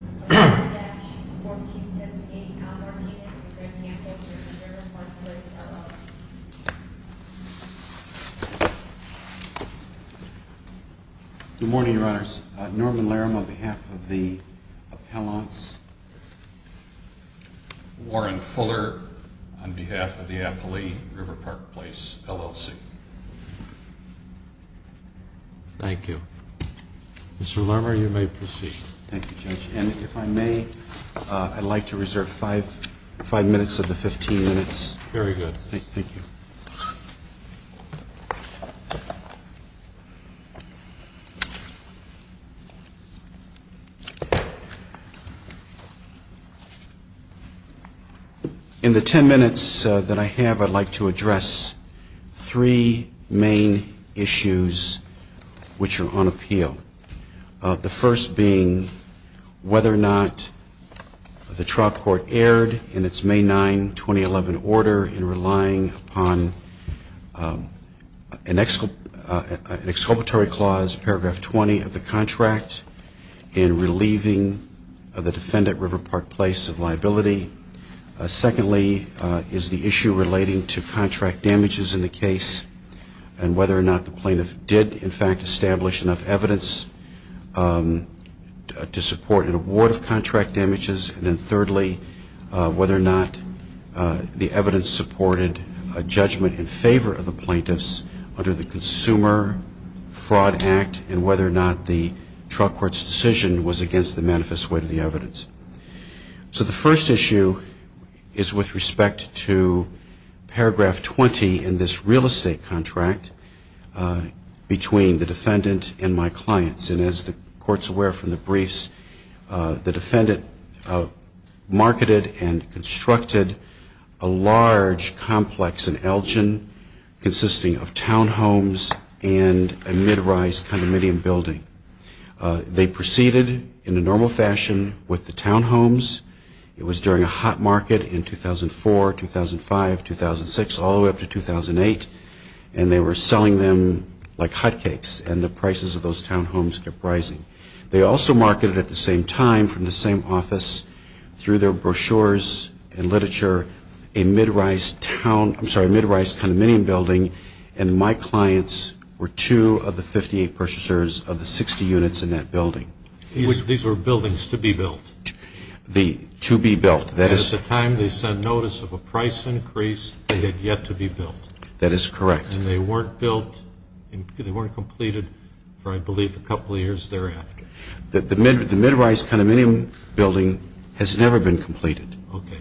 Good morning, Your Honors. Norman Larum, on behalf of the appellants. Warren Fuller, on behalf of the Apollee River Park Place LLC. Thank you. Mr. Larum, you may proceed. Thank you, Judge. And if I may, I'd like to reserve five minutes of the 15 minutes. Very good. Thank you. In the ten minutes that I have, I'd like to address three main issues which are on appeal. The first being whether or not the trial court erred in its May 9, 2011, order in relying upon the exculpatory clause, paragraph 20 of the contract, in relieving the defendant, River Park Place, of liability. Secondly, is the issue relating to contract damages in the case and whether or not the plaintiff did, in fact, establish enough evidence to support an award of contract damages. And then thirdly, whether or not the evidence supported a judgment in favor of the plaintiffs under the Consumer Fraud Act and whether or not the trial court's decision was against the manifest weight of the evidence. So the first issue is with respect to paragraph 20 in this real estate contract between the defendant and my clients. And as the court's aware from the briefs, the defendant marketed and constructed a large complex in Elgin consisting of townhomes and a mid-rise condominium building. They proceeded in a normal fashion with the townhomes. It was during a hot market in 2004, 2005, 2006, all the way up to 2008. And they were selling them like hot cakes. And the prices of those townhomes kept rising. They also marketed at the same time, from the same office, through their brochures and literature, a mid-rise town, I'm sorry, a mid-rise condominium building. And my clients were two of the 58 purchasers of the 60 units in that building. These were buildings to be built. To be built. At the time they sent notice of a price increase, they had yet to be built. That is correct. And they weren't built, they weren't completed for I believe a couple of years thereafter. The mid-rise condominium building has never been completed. Okay.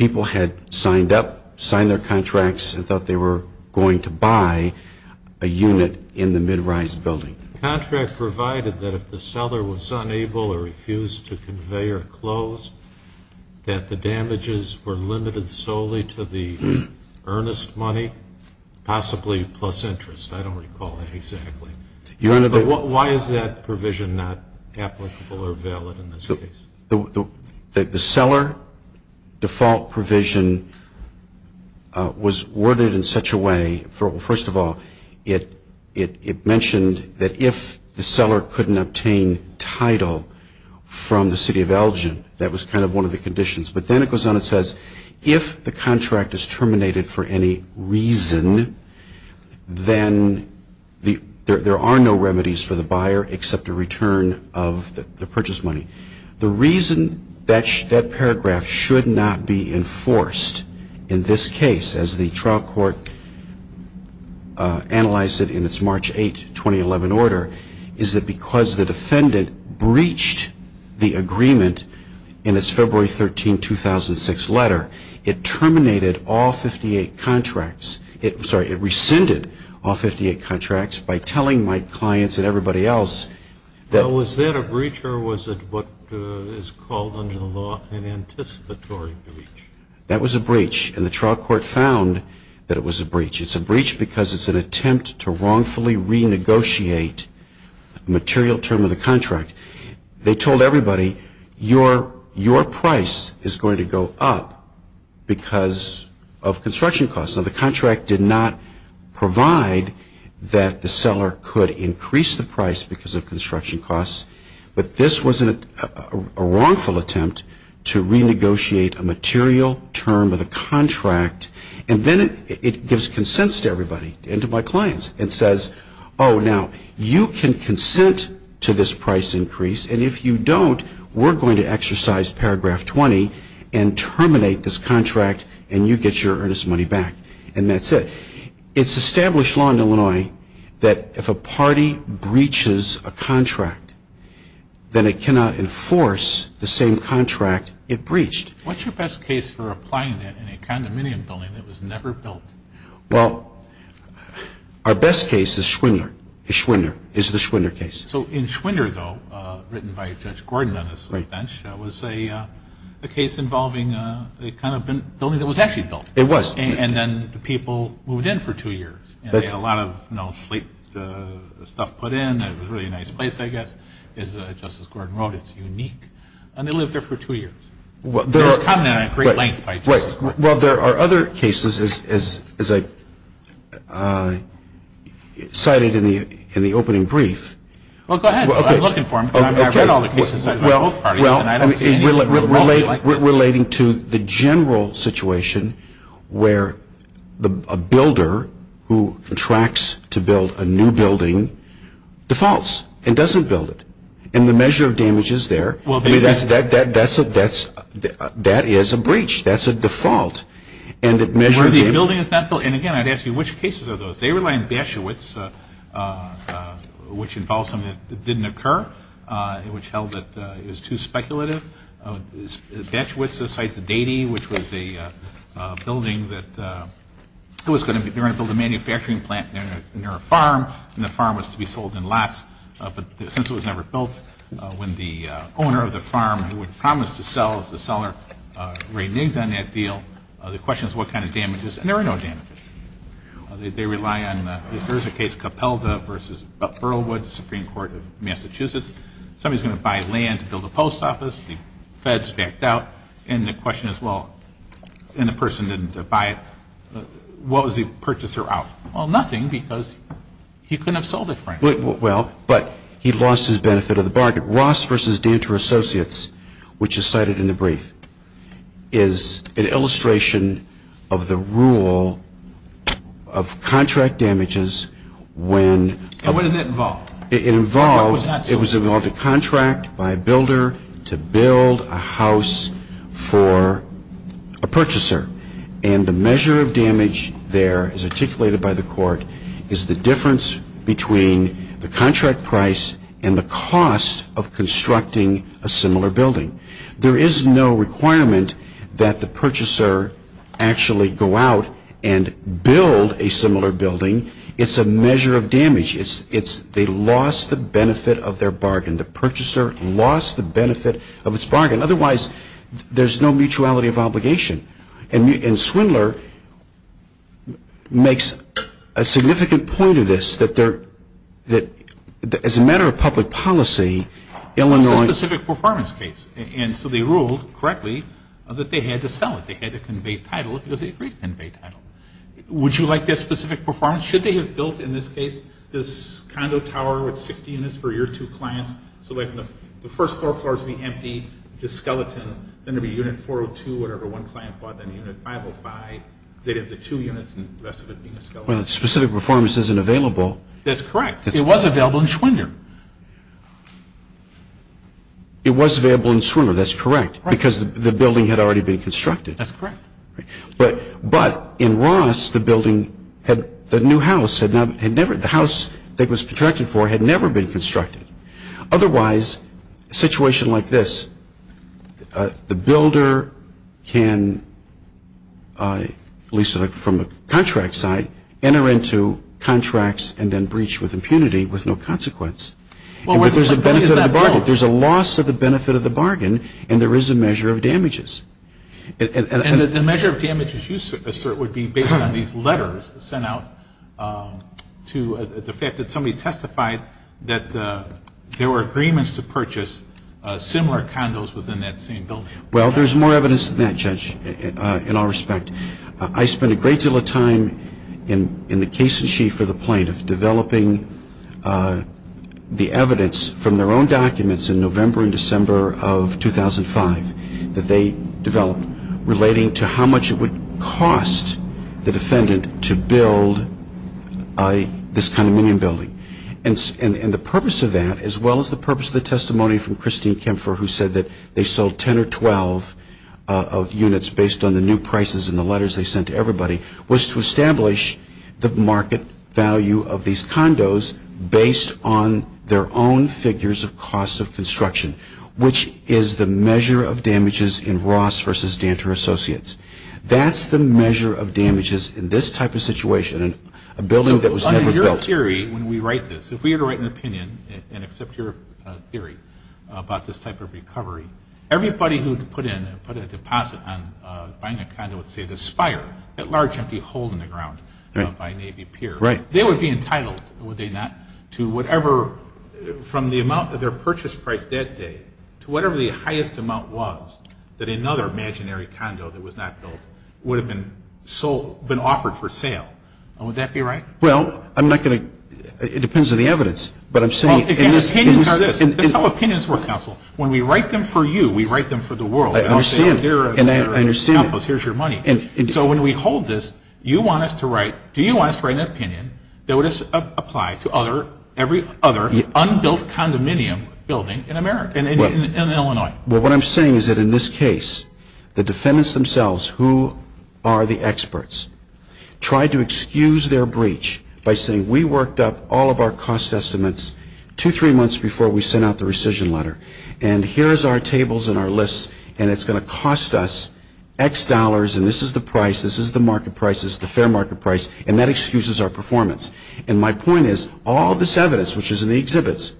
People had signed up, signed their contracts, and thought they were going to buy a unit in the mid-rise building. The contract provided that if the seller was unable or refused to convey or close, that the damages were limited solely to the earnest money, possibly plus interest. I don't recall that exactly. Why is that provision not applicable or valid in this case? The seller default provision was worded in such a way, first of all, it mentioned that if the seller couldn't obtain title from the City of Elgin, that was kind of one of the conditions. But then it goes on and says, if the contract is terminated for any reason, then there are no remedies for the buyer except a return of the purchase money. The reason that paragraph should not be enforced in this case, as the trial court analyzed it in its March 8, 2011 order, is that because the defendant breached the agreement in its February 13, 2006 letter, it terminated all 58 contracts, sorry, it rescinded all 58 contracts by telling my clients and everybody else that So was that a breach or was it what is called under the law an anticipatory breach? That was a breach, and the trial court found that it was a breach. It's a breach because it's an attempt to wrongfully renegotiate a material term of the contract. They told everybody, your price is going to go up because of construction costs. Now, the contract did not provide that the seller could increase the price because of construction costs, but this was a wrongful attempt to renegotiate a material term of the contract. And then it gives consents to everybody and to my clients and says, oh, now you can consent to this price increase, and if you don't, we're going to exercise paragraph 20 and terminate this contract and you get your earnest money back. And that's it. It's established law in Illinois that if a party breaches a contract, then it cannot enforce the same contract it breached. What's your best case for applying that in a condominium building that was never built? Well, our best case is Schwinder. Schwinder is the Schwinder case. So in Schwinder, though, written by Judge Gordon on his bench, was a case involving the kind of building that was actually built. It was. And then the people moved in for two years, and they had a lot of, you know, sleep stuff put in. It was a really nice place, I guess. As Justice Gordon wrote, it's unique. And they lived there for two years. It was common and at great length by Justice Gordon. Well, there are other cases, as I cited in the opening brief. Well, go ahead. I'm looking for them. I've read all the cases. Well, relating to the general situation where a builder who contracts to build a new building defaults and doesn't build it. And the measure of damage is there. That is a breach. That's a default. And again, I'd ask you, which cases are those? They rely on Batchewitz, which involves something that didn't occur, which held that it was too speculative. Batchewitz cites a deity, which was a building that they were going to build a manufacturing plant near a farm, and the farm was to be sold in lots. But since it was never built, when the owner of the farm, who had promised to sell, the seller reneged on that deal, the question is what kind of damages. And there were no damages. They rely on, there's a case, Capelda v. Burlwood, Supreme Court of Massachusetts. Somebody's going to buy land to build a post office. The Fed's backed out. And the question is, well, and the person didn't buy it. What was the purchaser out? Well, nothing, because he couldn't have sold it, frankly. Well, but he lost his benefit of the bargain. And the court, Ross v. Danter Associates, which is cited in the brief, is an illustration of the rule of contract damages when. And what did that involve? It involved a contract by a builder to build a house for a purchaser. And the measure of damage there, as articulated by the court, is the difference between the contract price and the cost of constructing a similar building. There is no requirement that the purchaser actually go out and build a similar building. It's a measure of damage. They lost the benefit of their bargain. The purchaser lost the benefit of its bargain. Otherwise, there's no mutuality of obligation. And Swindler makes a significant point of this, that as a matter of public policy, Illinois. It was a specific performance case. And so they ruled correctly that they had to sell it. They had to convey title because they agreed to convey title. Would you like that specific performance? Should they have built, in this case, this condo tower with 60 units for your two clients, so that the first four floors would be empty, just skeleton, then there would be unit 402, whatever one client bought, then unit 505. They'd have the two units and the rest of it being a skeleton. Well, specific performance isn't available. That's correct. It was available in Swindler. It was available in Swindler. That's correct. Because the building had already been constructed. That's correct. But in Ross, the building had, the new house had never, the house that it was contracted for had never been constructed. Otherwise, a situation like this, the builder can, at least from the contract side, enter into contracts and then breach with impunity with no consequence. But there's a benefit of the bargain. There's a loss of the benefit of the bargain, and there is a measure of damages. And the measure of damages you assert would be based on these letters sent out to, the fact that somebody testified that there were agreements to purchase similar condos within that same building. Well, there's more evidence than that, Judge, in all respect. I spent a great deal of time in the case in chief for the plaintiff developing the evidence from their own documents in November and December of 2005, that they developed relating to how much it would cost the defendant to build this condominium building. And the purpose of that, as well as the purpose of the testimony from Christine Kempfer, who said that they sold 10 or 12 units based on the new prices and the letters they sent to everybody, was to establish the market value of these condos based on their own figures of cost of construction, which is the measure of damages in Ross v. Danter Associates. That's the measure of damages in this type of situation, a building that was never built. So under your theory, when we write this, if we were to write an opinion and accept your theory about this type of recovery, everybody who put in a deposit on buying a condo at, say, the Spire, that large empty hole in the ground by Navy Pier, they would be entitled, would they not, to whatever, from the amount of their purchase price that day to whatever the highest amount was that another imaginary condo that was not built would have been sold, been offered for sale. Would that be right? Well, I'm not going to, it depends on the evidence, but I'm saying. Again, opinions are this. That's how opinions work, counsel. When we write them for you, we write them for the world. I understand, and I understand. Here's your money. So when we hold this, you want us to write, do you want us to write an opinion that would apply to every other unbuilt condominium building in Illinois? Well, what I'm saying is that in this case, the defendants themselves, who are the experts, tried to excuse their breach by saying, we worked up all of our cost estimates two, three months before we sent out the rescission letter, and here's our tables and our lists, and it's going to cost us X dollars, and this is the price, this is the market price, this is the fair market price, and that excuses our performance. And my point is, all this evidence, which is in the exhibits,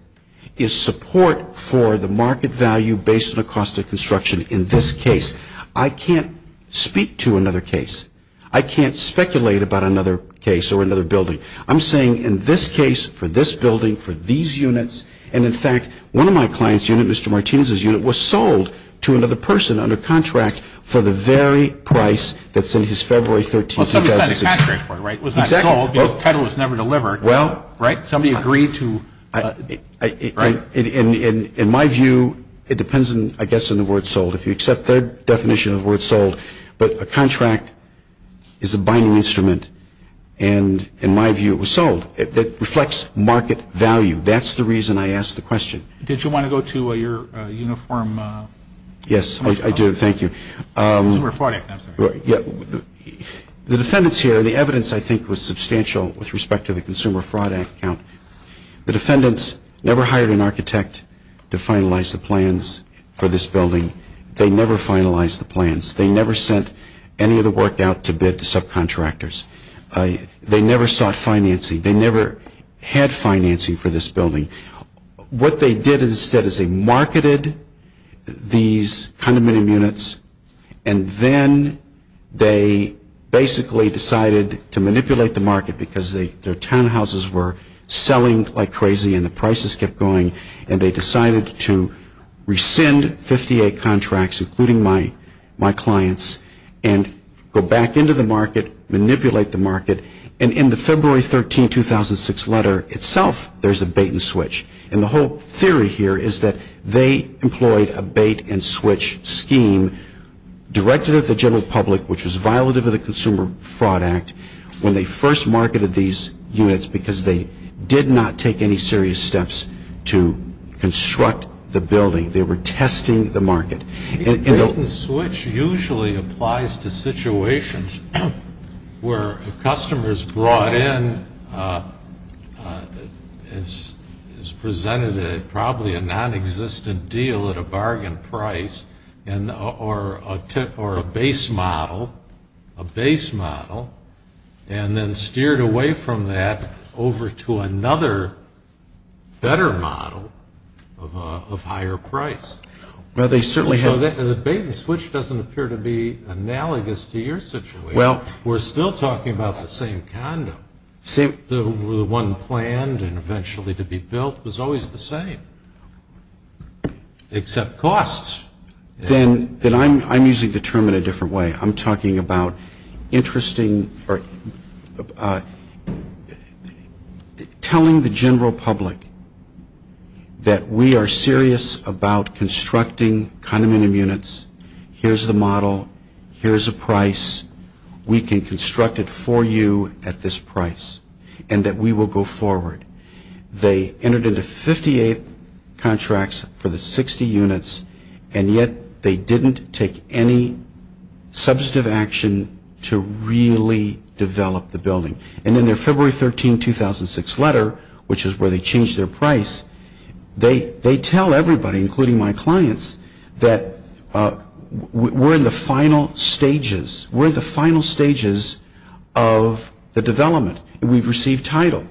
is support for the market value based on the cost of construction in this case. I can't speak to another case. I can't speculate about another case or another building. I'm saying in this case, for this building, for these units, and in fact, one of my clients' units, Mr. Martinez's unit, was sold to another person under contract for the very price that's in his February 13, 2006. Well, somebody signed a contract for it, right? It was not sold because the title was never delivered, right? Somebody agreed to, right? In my view, it depends, I guess, on the word sold. If you accept their definition of the word sold, but a contract is a binding instrument, and in my view, it was sold. It reflects market value. That's the reason I asked the question. Did you want to go to your uniform? Yes, I do. Thank you. Consumer Fraud Act, I'm sorry. The defendants here, the evidence, I think, was substantial with respect to the Consumer Fraud Act. The defendants never hired an architect to finalize the plans for this building. They never finalized the plans. They never sent any of the work out to bid to subcontractors. They never sought financing. They never had financing for this building. What they did instead is they marketed these condominium units, and then they basically decided to manipulate the market because their townhouses were selling like crazy and the prices kept going, and they decided to rescind 58 contracts, including my clients, and go back into the market, manipulate the market, and in the February 13, 2006, letter itself, there's a bait-and-switch, and the whole theory here is that they employed a bait-and-switch scheme directed at the general public, which was violative of the Consumer Fraud Act when they first marketed these units because they did not take any serious steps to construct the building. They were testing the market. A bait-and-switch usually applies to situations where a customer is brought in, is presented probably a nonexistent deal at a bargain price or a base model, and then steered away from that over to another better model of higher price. So the bait-and-switch doesn't appear to be analogous to your situation. We're still talking about the same condo. The one planned and eventually to be built was always the same, except costs. Then I'm using the term in a different way. I'm talking about telling the general public that we are serious about constructing condominium units. Here's the model. Here's the price. We can construct it for you at this price and that we will go forward. They entered into 58 contracts for the 60 units, and yet they didn't take any substantive action to really develop the building. And in their February 13, 2006 letter, which is where they changed their price, they tell everybody, including my clients, that we're in the final stages. We're in the final stages of the development, and we've received title.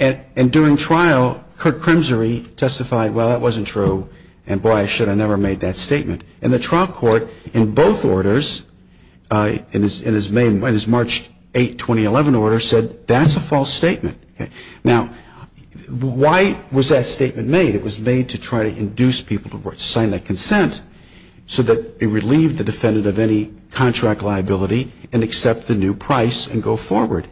And during trial, Kirk Crimson testified, well, that wasn't true, and boy, I should have never made that statement. And the trial court in both orders, in his March 8, 2011 order, said that's a false statement. Now, why was that statement made? It was made to try to induce people to sign that consent so that it relieved the defendant of any contract liability and accept the new price and go forward.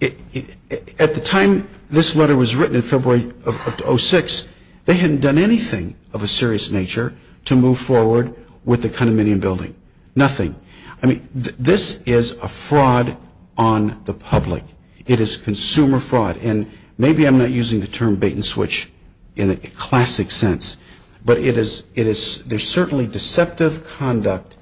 At the time this letter was written in February of 2006, they hadn't done anything of a serious nature to move forward with the condominium building, nothing. I mean, this is a fraud on the public. It is consumer fraud, and maybe I'm not using the term bait and switch in a classic sense, but there's certainly deceptive conduct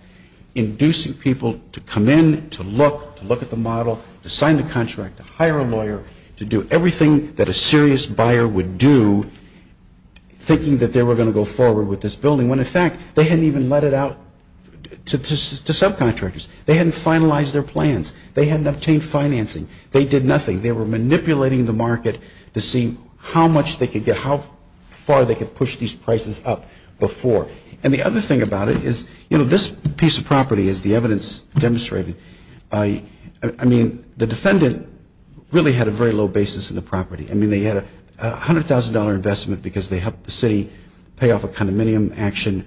inducing people to come in, to look, to look at the model, to sign the contract, to hire a lawyer, to do everything that a serious buyer would do, thinking that they were going to go forward with this building, when, in fact, they hadn't even let it out to subcontractors. They hadn't finalized their plans. They hadn't obtained financing. They did nothing. They were manipulating the market to see how much they could get, how far they could push these prices up before. And the other thing about it is, you know, this piece of property, as the evidence demonstrated, I mean, the defendant really had a very low basis in the property. I mean, they had a $100,000 investment because they helped the city pay off a condominium action,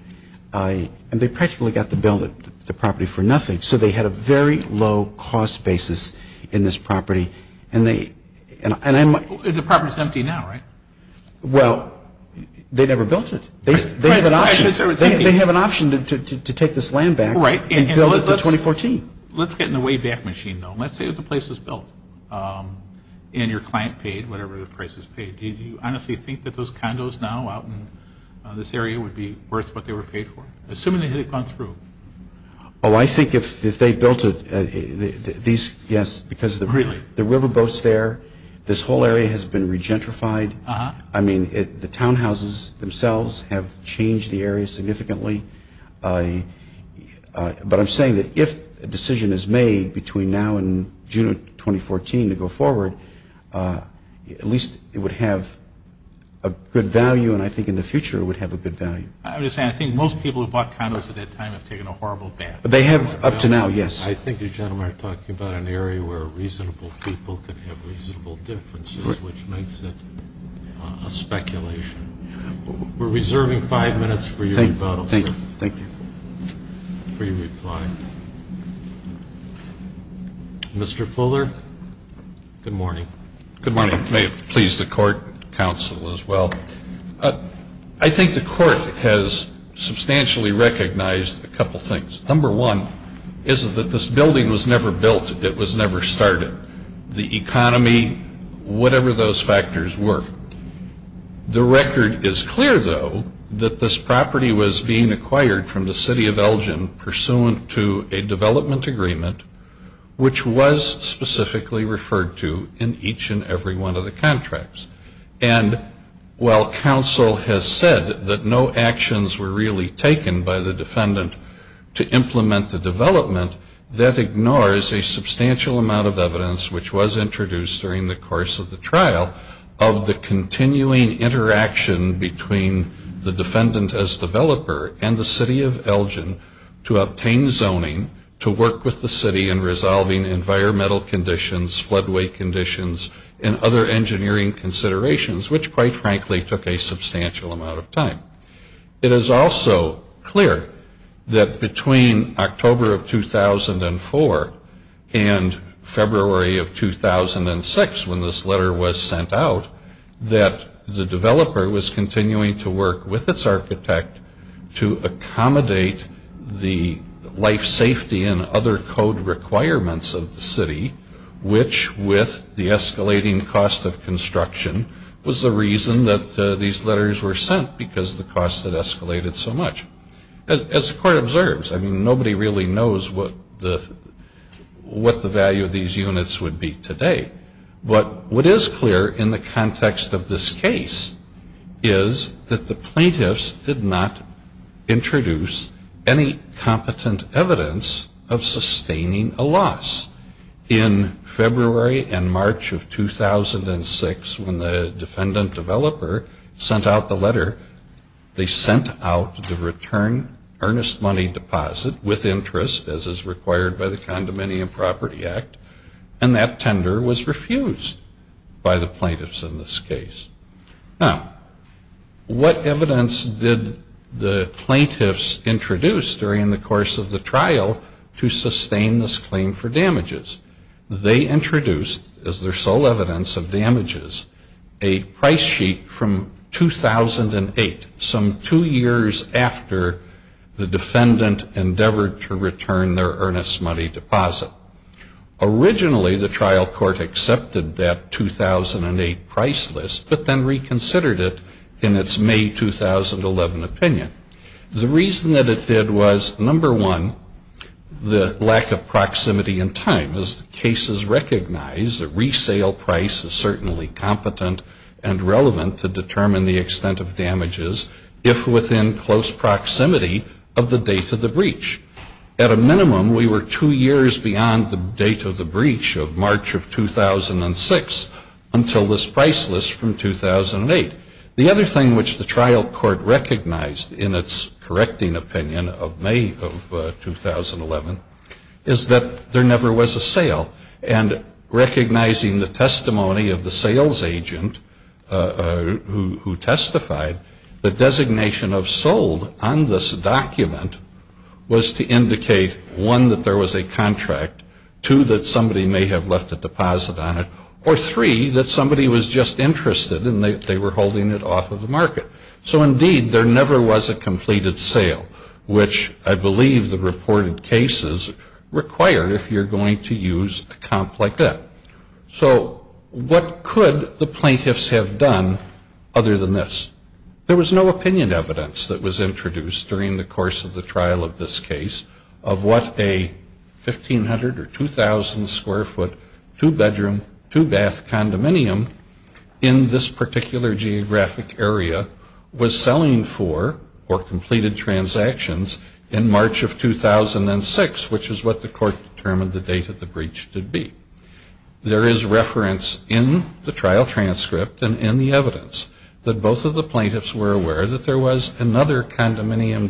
and they practically got the building, the property for nothing. So they had a very low cost basis in this property. The property is empty now, right? Well, they never built it. They have an option to take this land back and build it for 2014. Let's get in the wayback machine, though. Let's say that the place is built, and your client paid whatever the price is paid. Do you honestly think that those condos now out in this area would be worth what they were paid for, assuming they had gone through? Oh, I think if they built it, yes, because the river boats there, this whole area has been re-gentrified. I mean, the townhouses themselves have changed the area significantly. But I'm saying that if a decision is made between now and June of 2014 to go forward, at least it would have a good value, and I think in the future it would have a good value. I'm just saying I think most people who bought condos at that time have taken a horrible bath. They have up to now, yes. I think you gentlemen are talking about an area where reasonable people can have reasonable differences, which makes it a speculation. We're reserving five minutes for your rebuttal, sir. Thank you. Free reply. Mr. Fuller? Good morning. Good morning. May it please the court, counsel, as well. I think the court has substantially recognized a couple things. Number one is that this building was never built. It was never started. The economy, whatever those factors were. The record is clear, though, that this property was being acquired from the City of Elgin, pursuant to a development agreement, which was specifically referred to in each and every one of the contracts. And while counsel has said that no actions were really taken by the defendant to implement the development, that ignores a substantial amount of evidence, which was introduced during the course of the trial, of the continuing interaction between the defendant as developer and the City of Elgin to obtain zoning to work with the city in resolving environmental conditions, floodway conditions, and other engineering considerations, which, quite frankly, took a substantial amount of time. It is also clear that between October of 2004 and February of 2006, when this letter was sent out, that the developer was continuing to work with its architect to accommodate the life safety and other code requirements of the city, which, with the escalating cost of construction, was the reason that these letters were sent, because the cost had escalated so much. As the court observes, I mean, nobody really knows what the value of these units would be today. But what is clear in the context of this case is that the plaintiffs did not introduce any competent evidence of sustaining a loss. In February and March of 2006, when the defendant developer sent out the letter, they sent out the return earnest money deposit with interest, as is required by the Condominium Property Act, and that tender was refused by the plaintiffs in this case. Now, what evidence did the plaintiffs introduce during the course of the trial to sustain this claim for damages? They introduced, as their sole evidence of damages, a price sheet from 2008, some two years after the defendant endeavored to return their earnest money deposit. Originally, the trial court accepted that 2008 price list, but then reconsidered it in its May 2011 opinion. The reason that it did was, number one, the lack of proximity in time. As the cases recognize, a resale price is certainly competent and relevant to determine the extent of damages, if within close proximity of the date of the breach. At a minimum, we were two years beyond the date of the breach of March of 2006 until this price list from 2008. The other thing which the trial court recognized in its correcting opinion of May of 2011 is that there never was a sale. And recognizing the testimony of the sales agent who testified, the designation of sold on this document was to indicate, one, that there was a contract, two, that somebody may have left a deposit on it, or three, that somebody was just interested and they were holding it off of the market. So indeed, there never was a completed sale, which I believe the reported cases require if you're going to use a comp like that. So what could the plaintiffs have done other than this? There was no opinion evidence that was introduced during the course of the trial of this case of what a 1,500 or 2,000 square foot two-bedroom, two-bath condominium in this particular geographic area was selling for or completed transactions in March of 2006, which is what the court determined the date of the breach to be. There is reference in the trial transcript and in the evidence that both of the plaintiffs were aware that there was another walking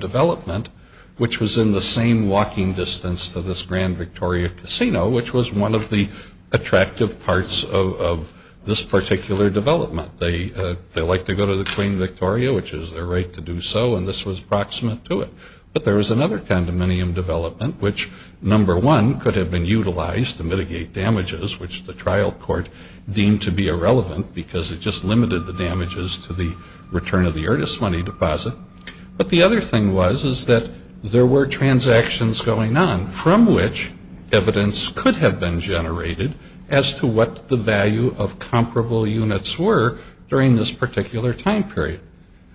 distance to this Grand Victoria Casino, which was one of the attractive parts of this particular development. They like to go to the Queen Victoria, which is their right to do so, and this was proximate to it. But there was another condominium development, which, number one, could have been utilized to mitigate damages, which the trial court deemed to be irrelevant because it just limited the damages to the return of the earnest money deposit. But the other thing was is that there were transactions going on from which evidence could have been generated as to what the value of comparable units were during this particular time period.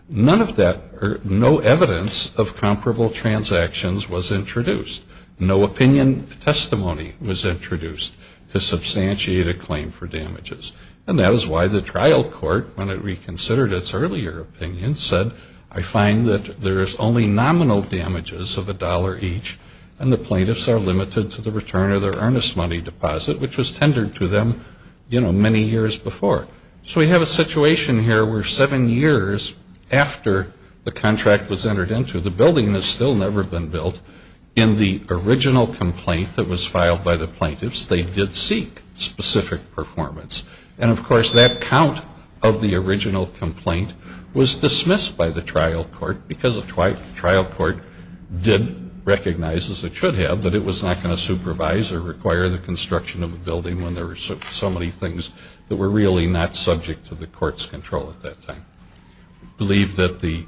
None of that or no evidence of comparable transactions was introduced. No opinion testimony was introduced to substantiate a claim for damages. And that is why the trial court, when it reconsidered its earlier opinion, said, I find that there is only nominal damages of a dollar each and the plaintiffs are limited to the return of their earnest money deposit, which was tendered to them, you know, many years before. So we have a situation here where seven years after the contract was entered into, the building has still never been built. In the original complaint that was filed by the plaintiffs, they did seek specific performance. And, of course, that count of the original complaint was dismissed by the trial court because the trial court did recognize, as it should have, that it was not going to supervise or require the construction of a building when there were so many things that were really not subject to the court's control at that time. We believe that the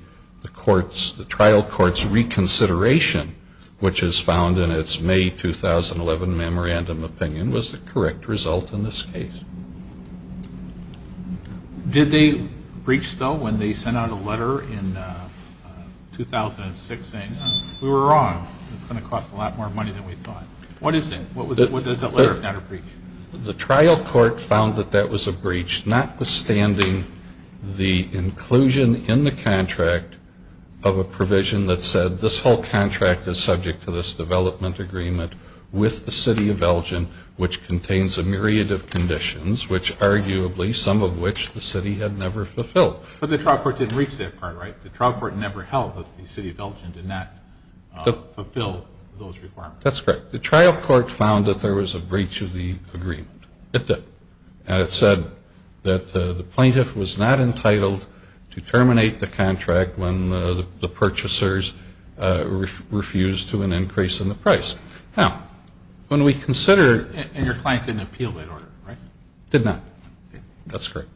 trial court's reconsideration, which is found in its May 2011 memorandum opinion, was the correct result in this case. Did they breach, though, when they sent out a letter in 2006 saying, we were wrong, it's going to cost a lot more money than we thought? What is it? What does that letter of matter breach? The trial court found that that was a breach, notwithstanding the inclusion in the contract of a provision that said, this whole contract is subject to this development agreement with the city of Elgin, which contains a myriad of conditions, which arguably, some of which the city had never fulfilled. But the trial court didn't reach that part, right? The trial court never held that the city of Elgin did not fulfill those requirements. That's correct. The trial court found that there was a breach of the agreement. It did. And it said that the plaintiff was not entitled to terminate the contract when the purchasers refused to an increase in the price. Now, when we consider — And your client didn't appeal that order, right? Did not. That's correct.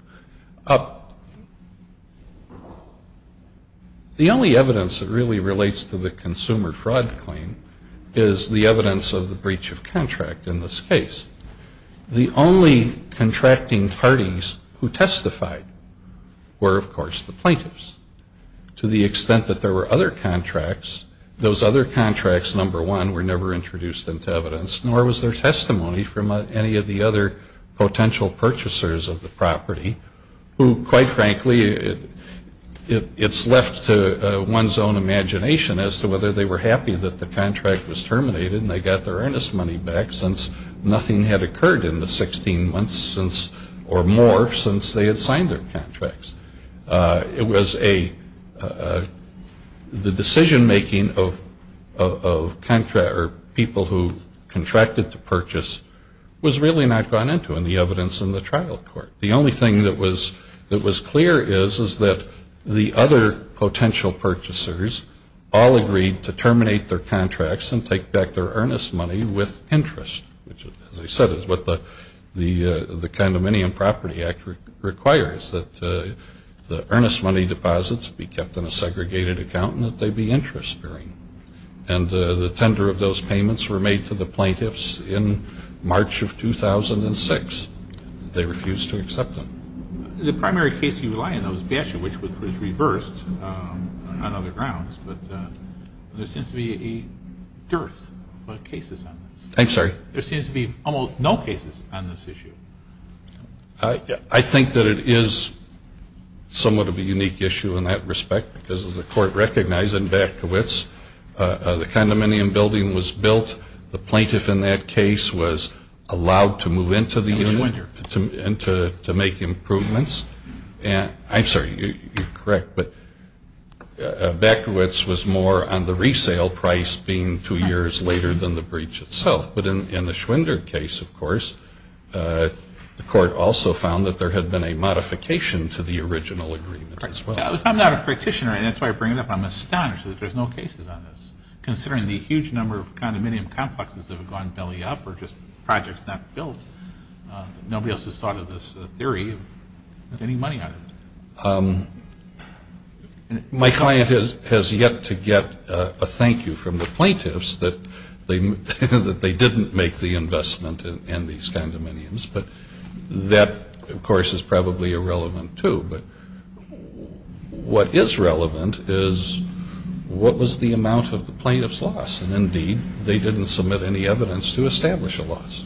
The only evidence that really relates to the consumer fraud claim is the evidence of the breach of contract in this case. The only contracting parties who testified were, of course, the plaintiffs. To the extent that there were other contracts, those other contracts, number one, were never introduced into evidence, nor was there testimony from any of the other potential purchasers of the property, who, quite frankly, it's left to one's own imagination as to whether they were happy that the contract was terminated and they got their earnest money back since nothing had occurred in the 16 months or more since they had signed their contracts. It was a — the decision-making of people who contracted to purchase was really not gone into in the evidence in the trial court. The only thing that was clear is that the other potential purchasers all agreed to terminate their contracts and take back their earnest money with interest, which, as I said, is what the Condominium Property Act requires, that the earnest money deposits be kept in a segregated account and that they be interest-bearing. And the tender of those payments were made to the plaintiffs in March of 2006. They refused to accept them. The primary case you rely on, though, is Basher, which was reversed on other grounds, but there seems to be a dearth of cases on this. I'm sorry? There seems to be almost no cases on this issue. I think that it is somewhat of a unique issue in that respect because, as the Court recognized, in Batkiewicz, the condominium building was built. The plaintiff in that case was allowed to move into the union and to make improvements. I'm sorry, you're correct, but Batkiewicz was more on the resale price being two years later than the breach itself. But in the Schwender case, of course, the Court also found that there had been a modification to the original agreement as well. I'm not a practitioner, and that's why I bring it up. I'm astonished that there's no cases on this, considering the huge number of condominium complexes that have gone belly up or just projects not built. Nobody else has thought of this theory of getting money out of it. My client has yet to get a thank you from the plaintiffs that they didn't make the investment in these condominiums. But that, of course, is probably irrelevant too. But what is relevant is what was the amount of the plaintiffs' loss. And, indeed, they didn't submit any evidence to establish a loss.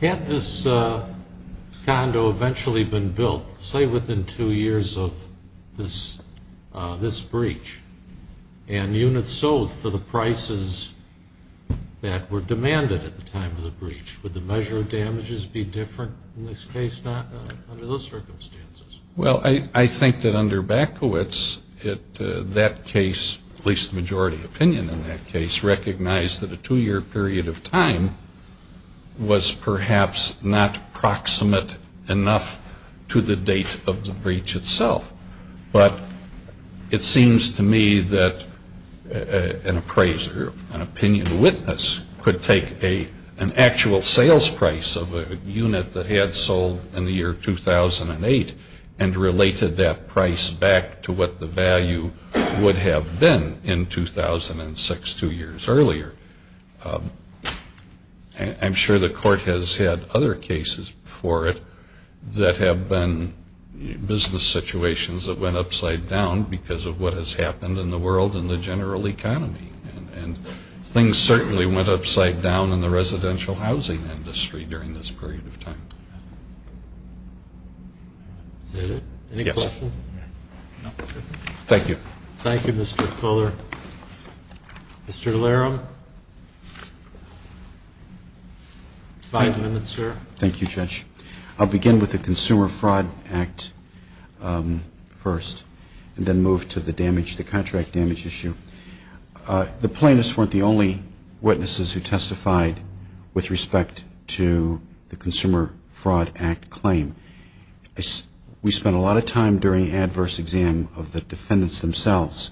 Had this condo eventually been built, say within two years of this breach, and units sold for the prices that were demanded at the time of the breach, would the measure of damages be different in this case under those circumstances? Well, I think that under Batkiewicz, that case, at least the majority opinion in that case, recognized that a two-year period of time was perhaps not proximate enough to the date of the breach itself. But it seems to me that an appraiser, an opinion witness, could take an actual sales price of a unit that had sold in the year 2008 and related that price back to what the value would have been in 2006, two years earlier. I'm sure the court has had other cases before it that have been business situations that went upside down because of what has happened in the world and the general economy. And things certainly went upside down in the residential housing industry during this period of time. Is that it? Yes. Thank you. Thank you, Mr. Fuller. Mr. Laram? Five minutes, sir. Thank you, Judge. I'll begin with the Consumer Fraud Act first, and then move to the contract damage issue. The plaintiffs weren't the only witnesses who testified with respect to the Consumer Fraud Act claim. We spent a lot of time during adverse exam of the defendants themselves,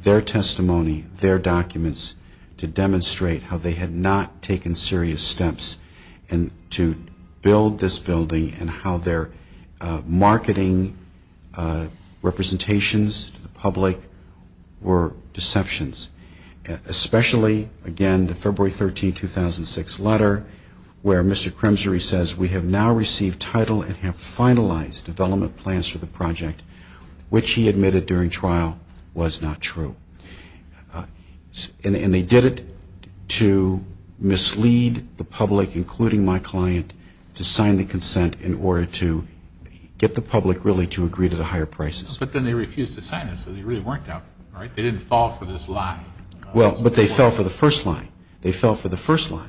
their testimony, their documents, to demonstrate how they had not taken serious steps to build this building and how their marketing representations to the public were deceptions. Especially, again, the February 13, 2006 letter where Mr. Crimsery says, we have now received title and have finalized development plans for the project, which he admitted during trial was not true. And they did it to mislead the public, including my client, to sign the consent in order to get the public really to agree to the higher prices. But then they refused to sign it. So they really weren't doubtful, right? They didn't fall for this lie. Well, but they fell for the first lie. They fell for the first lie.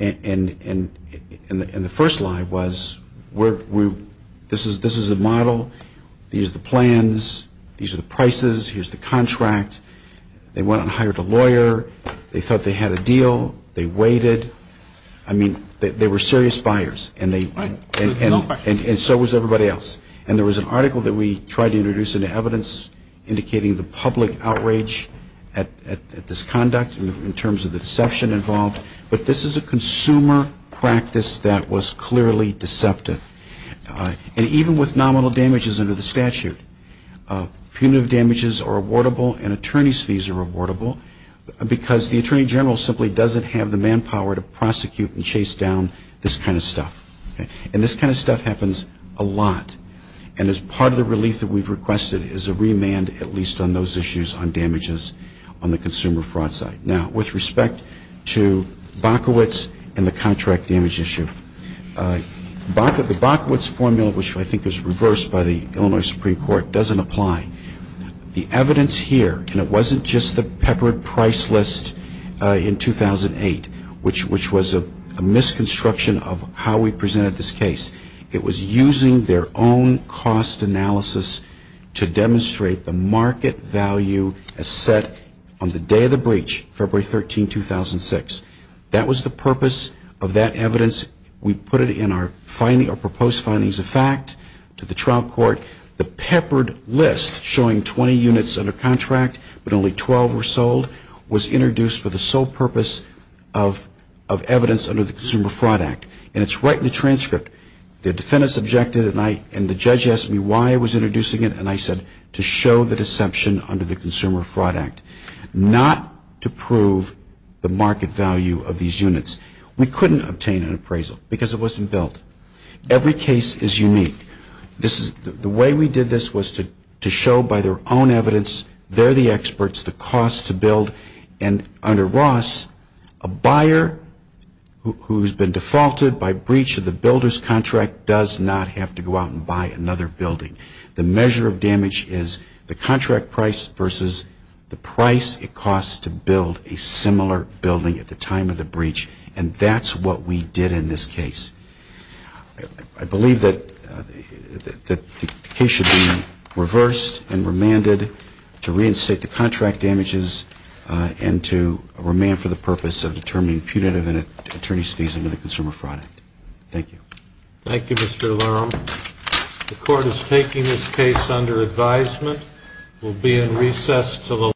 And the first lie was, this is a model. These are the plans. These are the prices. Here's the contract. They went and hired a lawyer. They thought they had a deal. They waited. I mean, they were serious buyers, and so was everybody else. And there was an article that we tried to introduce into evidence indicating the public outrage at this conduct in terms of the deception involved. But this is a consumer practice that was clearly deceptive. And even with nominal damages under the statute, punitive damages are awardable and attorney's fees are awardable because the attorney general simply doesn't have the manpower to prosecute and chase down this kind of stuff. And this kind of stuff happens a lot. And as part of the relief that we've requested is a remand, at least on those issues on damages on the consumer fraud site. Now, with respect to Bokowitz and the contract damage issue, the Bokowitz formula, which I think is reversed by the Illinois Supreme Court, doesn't apply. The evidence here, and it wasn't just the peppered price list in 2008, which was a misconstruction of how we presented this case. It was using their own cost analysis to demonstrate the market value as set on the day of the breach, February 13, 2006. That was the purpose of that evidence. We put it in our proposed findings of fact to the trial court. The peppered list showing 20 units under contract but only 12 were sold was introduced for the sole purpose of evidence under the Consumer Fraud Act. And it's right in the transcript. The defendants objected and the judge asked me why I was introducing it and I said to show the deception under the Consumer Fraud Act, not to prove the market value of these units. We couldn't obtain an appraisal because it wasn't built. Every case is unique. The way we did this was to show by their own evidence, they're the experts, the cost to build. And under Ross, a buyer who's been defaulted by breach of the builder's contract does not have to go out and buy another building. The measure of damage is the contract price versus the price it costs to build a similar building at the time of the breach. And that's what we did in this case. I believe that the case should be reversed and remanded to reinstate the contract damages and to remand for the purpose of determining punitive and attorney's fees under the Consumer Fraud Act. Thank you. Thank you, Mr. Laram. The court is taking this case under advisement. We'll be in recess until 11 a.m.